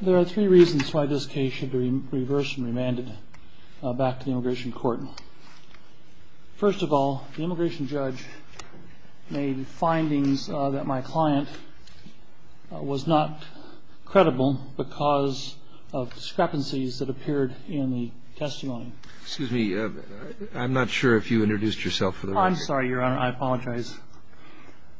There are three reasons why this case should be reversed and remanded back to the Immigration Court. First of all, the immigration judge made findings that my client was not credible because of discrepancies that appeared in the testimony. Excuse me, I'm not sure if you introduced yourself for the record. I'm sorry, Your Honor. I apologize.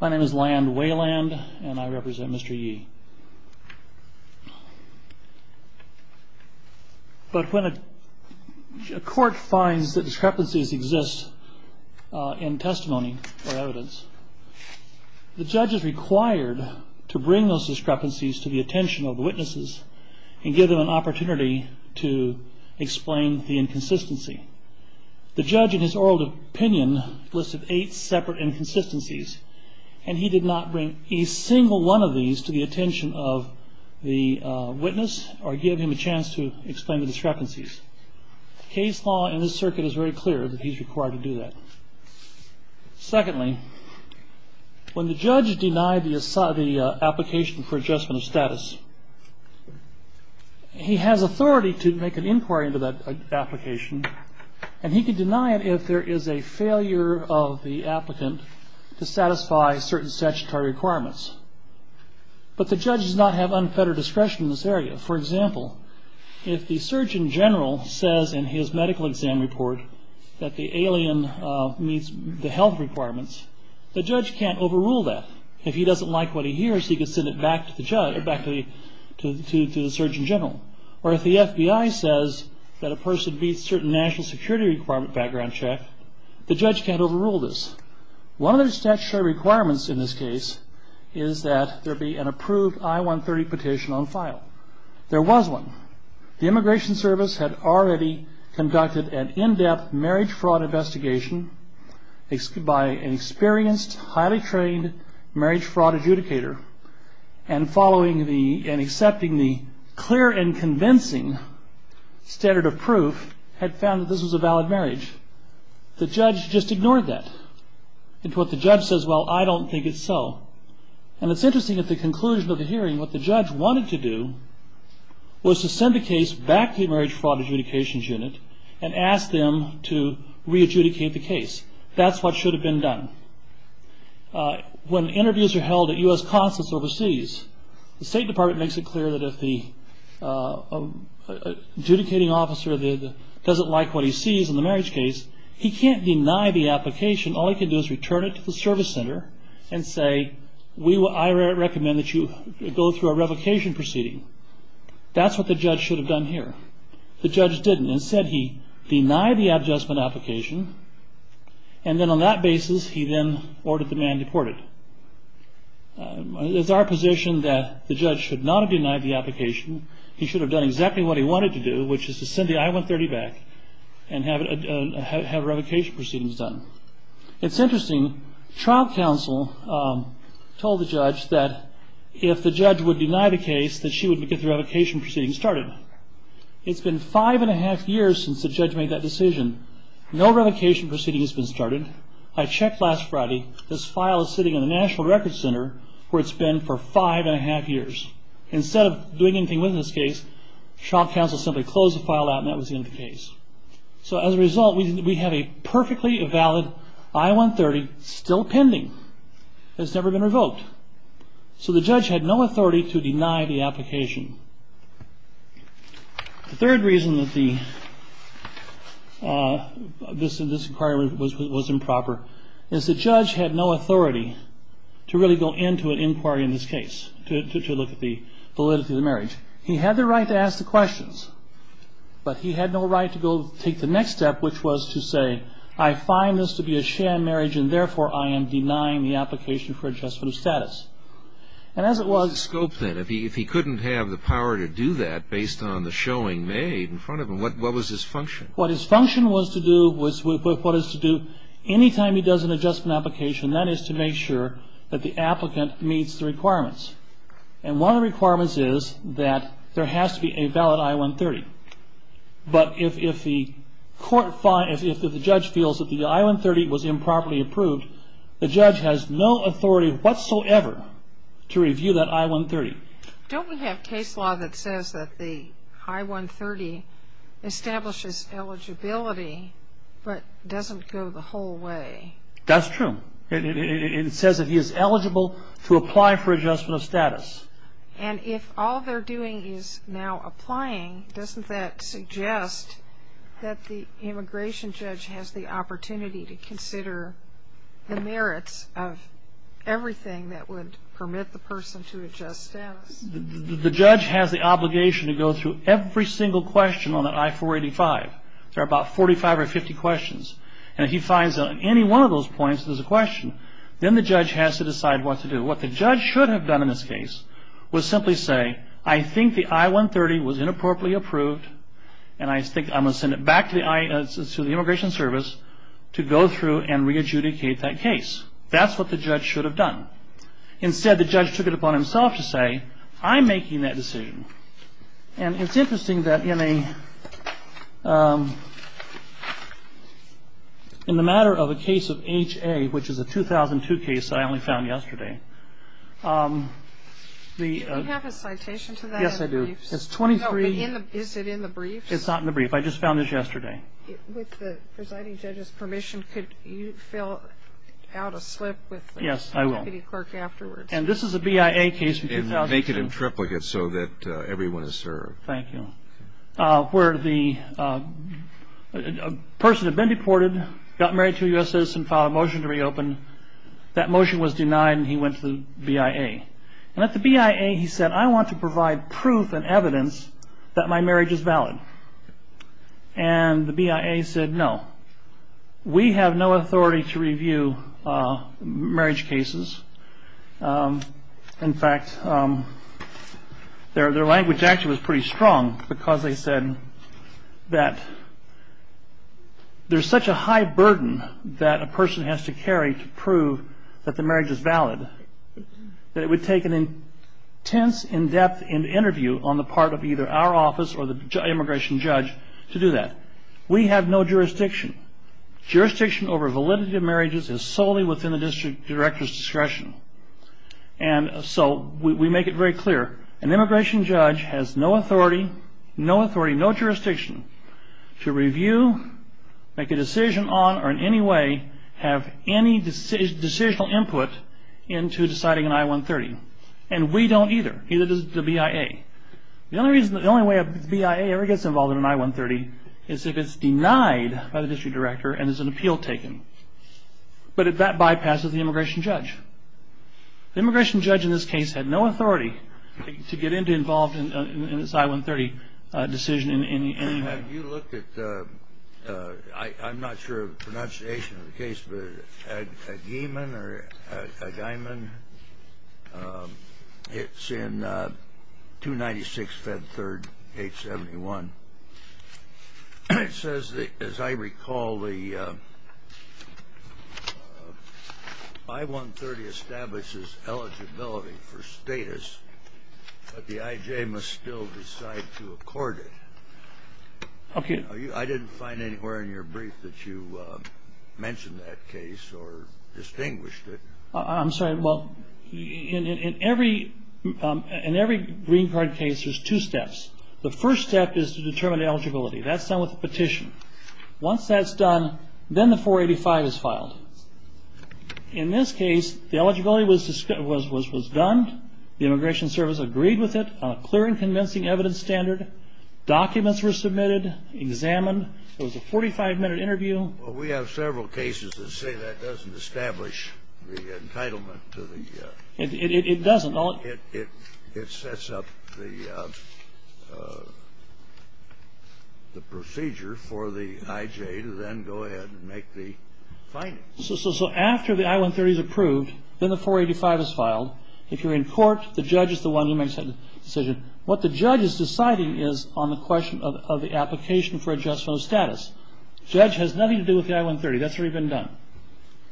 My name is Land Weyland and I represent Mr. Yee. But when a court finds that discrepancies exist in testimony or evidence, the judge is required to bring those discrepancies to the attention of the witnesses and give them an opportunity to explain the inconsistency. The judge in his oral opinion listed eight separate inconsistencies and he did not bring a single one of these to the attention of the witness or give him a chance to explain the discrepancies. Case law in this circuit is very clear that he's required to do that. Secondly, when the judge denied the application for adjustment of status, he has authority to make an inquiry into that application and he can deny it if there is a failure of the applicant to satisfy certain statutory requirements. But the judge does not have unfettered discretion in this area. For example, if the surgeon general says in his medical exam report that the alien meets the health requirements, the judge can't overrule that. If he doesn't like what he hears, he can send it back to the surgeon general. Or if the FBI says that a person meets certain national security background check, the judge can't overrule this. One of the statutory requirements in this case is that there be an approved I-130 petition on file. There was one. The Immigration Service had already conducted an in-depth marriage fraud investigation by an experienced, highly trained marriage fraud adjudicator and following and accepting the clear and convincing standard of proof had found that this was a valid marriage. The judge just ignored that. The judge says, well, I don't think it's so. And it's interesting, at the conclusion of the hearing, what the judge wanted to do was to send the case back to the marriage fraud adjudications unit and ask them to re-adjudicate the case. That's what should have been done. When interviews are held at U.S. consulates overseas, the State Department makes it clear that if the adjudicating officer doesn't like what he sees in the marriage case, he can't deny the application. All he can do is return it to the service center and say, I recommend that you go through a revocation proceeding. That's what the judge should have done here. The judge didn't. Instead, he denied the adjustment application, and then on that basis he then ordered the man deported. It's our position that the judge should not have denied the application. He should have done exactly what he wanted to do, which is to send the I-130 back and have revocation proceedings done. It's interesting, trial counsel told the judge that if the judge would deny the case, that she would get the revocation proceeding started. It's been five and a half years since the judge made that decision. No revocation proceeding has been started. I checked last Friday. This file is sitting in the National Records Center where it's been for five and a half years. Instead of doing anything with this case, trial counsel simply closed the file out and that was the end of the case. As a result, we have a perfectly valid I-130 still pending. It's never been revoked. So the judge had no authority to deny the application. The third reason that this inquiry was improper is the judge had no authority to really go into an inquiry in this case to look at the validity of the marriage. He had the right to ask the questions, but he had no right to go take the next step, which was to say I find this to be a sham marriage and, therefore, I am denying the application for adjustment of status. And as it was the scope that if he couldn't have the power to do that based on the showing made in front of him, what was his function? What his function was to do was what is to do any time he does an adjustment application, that is to make sure that the applicant meets the requirements. And one of the requirements is that there has to be a valid I-130. But if the judge feels that the I-130 was improperly approved, the judge has no authority whatsoever to review that I-130. Don't we have case law that says that the I-130 establishes eligibility but doesn't go the whole way? That's true. It says that he is eligible to apply for adjustment of status. And if all they're doing is now applying, doesn't that suggest that the immigration judge has the opportunity to consider the merits of everything that would permit the person to adjust status? The judge has the obligation to go through every single question on that I-485. There are about 45 or 50 questions. And if he finds on any one of those points there's a question, then the judge has to decide what to do. And what the judge did in this instance was simply say, I think the I-130 was inappropriately approved, and I think I'm going to send it back to the immigration service to go through and re-adjudicate that case. That's what the judge should have done. Instead, the judge took it upon himself to say, I'm making that decision. And it's interesting that in the matter of a case of HA, which is a 2002 case that I only found yesterday. Do you have a citation to that? Yes, I do. It's 23. Is it in the brief? It's not in the brief. I just found this yesterday. With the presiding judge's permission, could you fill out a slip with the city clerk afterwards? Yes, I will. And this is a BIA case from 2002. Make it in triplicate so that everyone is served. Thank you. Where the person had been deported, got married to a U.S. citizen, filed a motion to reopen. That motion was denied, and he went to the BIA. And at the BIA, he said, I want to provide proof and evidence that my marriage is valid. And the BIA said, no, we have no authority to review marriage cases. In fact, their language actually was pretty strong, because they said that there's such a high burden that a person has to carry to prove that the marriage is valid, that it would take an intense, in-depth interview on the part of either our office or the immigration judge to do that. We have no jurisdiction. Jurisdiction over validity of marriages is solely within the district director's discretion. And so we make it very clear. An immigration judge has no authority, no jurisdiction to review, make a decision on, or in any way have any decisional input into deciding an I-130. And we don't either. Neither does the BIA. The only way a BIA ever gets involved in an I-130 is if it's denied by the district director and is an appeal taken. But that bypasses the immigration judge. The immigration judge in this case had no authority to get involved in this I-130 decision in any way. Have you looked at the ‑‑ I'm not sure of the pronunciation of the case, but Aguiman or Aguiman? It's in 296, Fed 3rd, 871. It says that, as I recall, the I-130 establishes eligibility for status, but the IJ must still decide to accord it. Okay. I didn't find anywhere in your brief that you mentioned that case or distinguished it. I'm sorry. Well, in every green card case, there's two steps. The first step is to determine eligibility. That's done with a petition. Once that's done, then the 485 is filed. In this case, the eligibility was done. The Immigration Service agreed with it on a clear and convincing evidence standard. Documents were submitted, examined. It was a 45‑minute interview. Well, we have several cases that say that doesn't establish the entitlement to the ‑‑ It doesn't. It sets up the procedure for the IJ to then go ahead and make the findings. So after the I-130 is approved, then the 485 is filed. If you're in court, the judge is the one who makes that decision. What the judge is deciding is on the question of the application for adjustment of status. The judge has nothing to do with the I-130. That's already been done.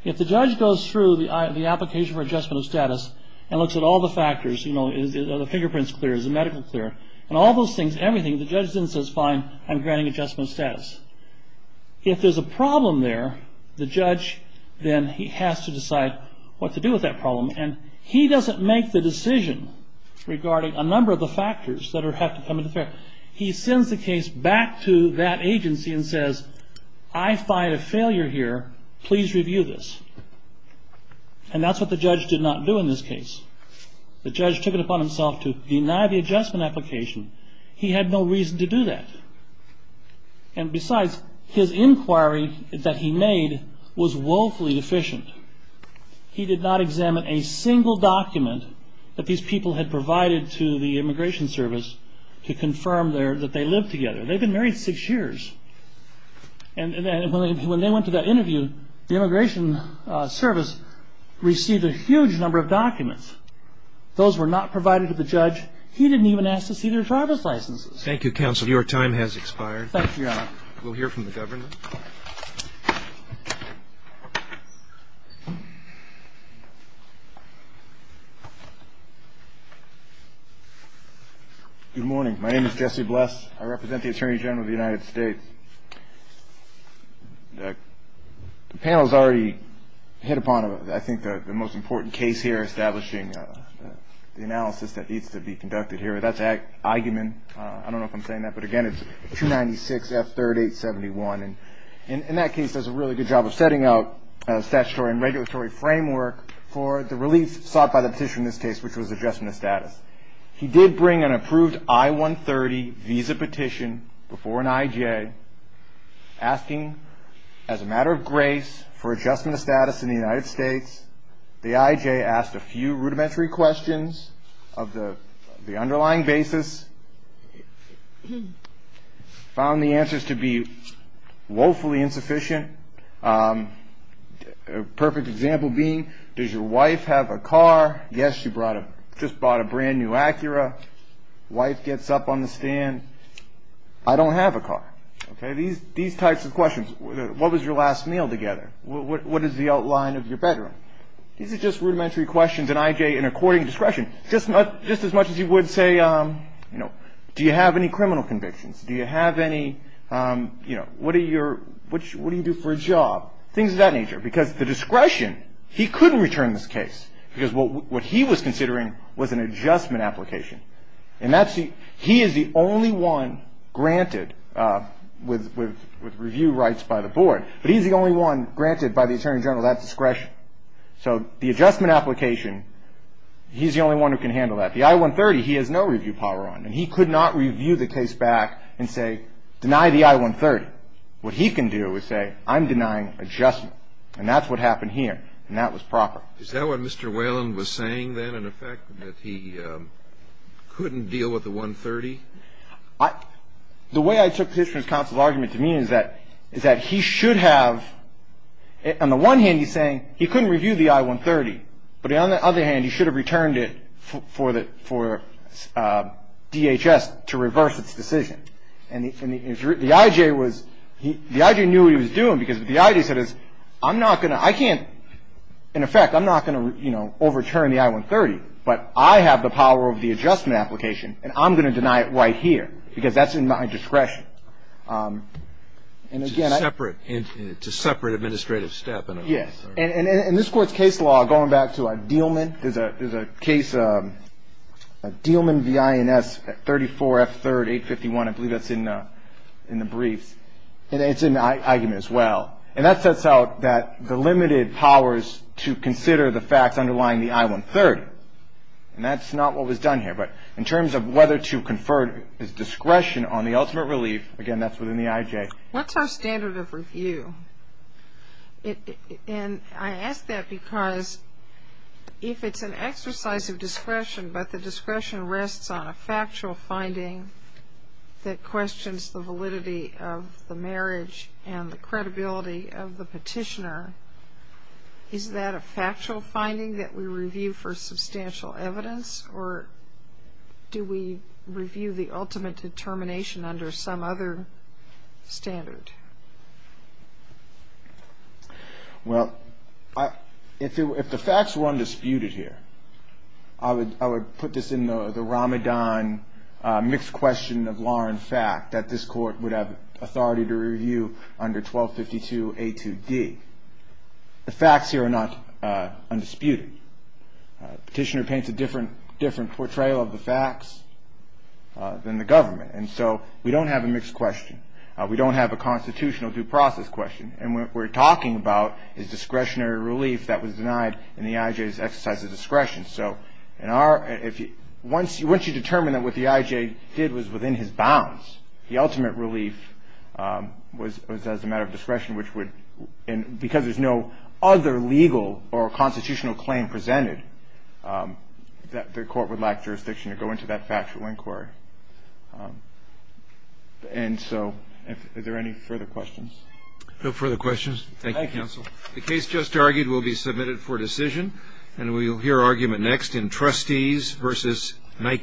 If the judge goes through the application for adjustment of status and looks at all the factors, you know, are the fingerprints clear, is the medical clear, and all those things, everything, the judge then says, fine, I'm granting adjustment of status. If there's a problem there, the judge then has to decide what to do with that problem. And he doesn't make the decision regarding a number of the factors that have to come into play. However, he sends the case back to that agency and says, I find a failure here. Please review this. And that's what the judge did not do in this case. The judge took it upon himself to deny the adjustment application. He had no reason to do that. And besides, his inquiry that he made was woefully deficient. He did not examine a single document that these people had provided to the Immigration Service to confirm that they lived together. They'd been married six years. And when they went to that interview, the Immigration Service received a huge number of documents. Those were not provided to the judge. He didn't even ask to see their driver's licenses. Your time has expired. Thank you, Your Honor. We'll hear from the Governor. Good morning. My name is Jesse Bless. I represent the Attorney General of the United States. The panel has already hit upon, I think, the most important case here, establishing the analysis that needs to be conducted here. That's argument. I don't know if I'm saying that. But again, it's 296F3871. And in that case, does a really good job of setting up a statutory and regulatory framework for the relief sought by the petition in this case, which was adjustment of status. He did bring an approved I-130 visa petition before an IJ, asking, as a matter of grace, for adjustment of status in the United States. The IJ asked a few rudimentary questions of the underlying basis. Found the answers to be woefully insufficient. A perfect example being, does your wife have a car? Yes, she just bought a brand new Acura. Wife gets up on the stand. I don't have a car. These types of questions. What was your last meal together? What is the outline of your bedroom? These are just rudimentary questions, and IJ, in according discretion, just as much as he would say, you know, do you have any criminal convictions? Do you have any, you know, what do you do for a job? Things of that nature. Because the discretion, he couldn't return this case. Because what he was considering was an adjustment application. And he is the only one granted with review rights by the board. But he's the only one granted by the attorney general that discretion. So the adjustment application, he's the only one who can handle that. The I-130, he has no review power on. And he could not review the case back and say, deny the I-130. What he can do is say, I'm denying adjustment. And that's what happened here. And that was proper. Is that what Mr. Whelan was saying then, in effect, that he couldn't deal with the 130? The way I took the petitioner's counsel's argument to me is that he should have, on the one hand, he's saying he couldn't review the I-130. But on the other hand, he should have returned it for DHS to reverse its decision. And the IJ was, the IJ knew what he was doing because the IJ said, I'm not going to, I can't, in effect, I'm not going to, you know, overturn the I-130. But I have the power of the adjustment application, and I'm going to deny it right here. Because that's in my discretion. And again, I. It's a separate, it's a separate administrative step. Yes. And in this Court's case law, going back to Dielman, there's a case, Dielman v. INS, 34 F. 3rd, 851. I believe that's in the briefs. And it's in the argument as well. And that sets out that the limited powers to consider the facts underlying the I-130. And that's not what was done here. But in terms of whether to confer discretion on the ultimate relief, again, that's within the IJ. What's our standard of review? And I ask that because if it's an exercise of discretion, but the discretion rests on a factual finding that questions the validity of the marriage and the credibility of the petitioner, is that a factual finding that we review for substantial evidence? Or do we review the ultimate determination under some other standard? Well, if the facts were undisputed here, I would put this in the Ramadan mixed question of law and fact that this Court would have authority to review under 1252 A. 2d. The facts here are not undisputed. Petitioner paints a different portrayal of the facts than the government. And so we don't have a mixed question. We don't have a constitutional due process question. And what we're talking about is discretionary relief that was denied in the IJ's exercise of discretion. So once you determine that what the IJ did was within his bounds, the ultimate relief was as a matter of discretion, and because there's no other legal or constitutional claim presented, the Court would lack jurisdiction to go into that factual inquiry. And so are there any further questions? No further questions. Thank you, Counsel. The case just argued will be submitted for decision, and we'll hear argument next in Trustees v. NICA.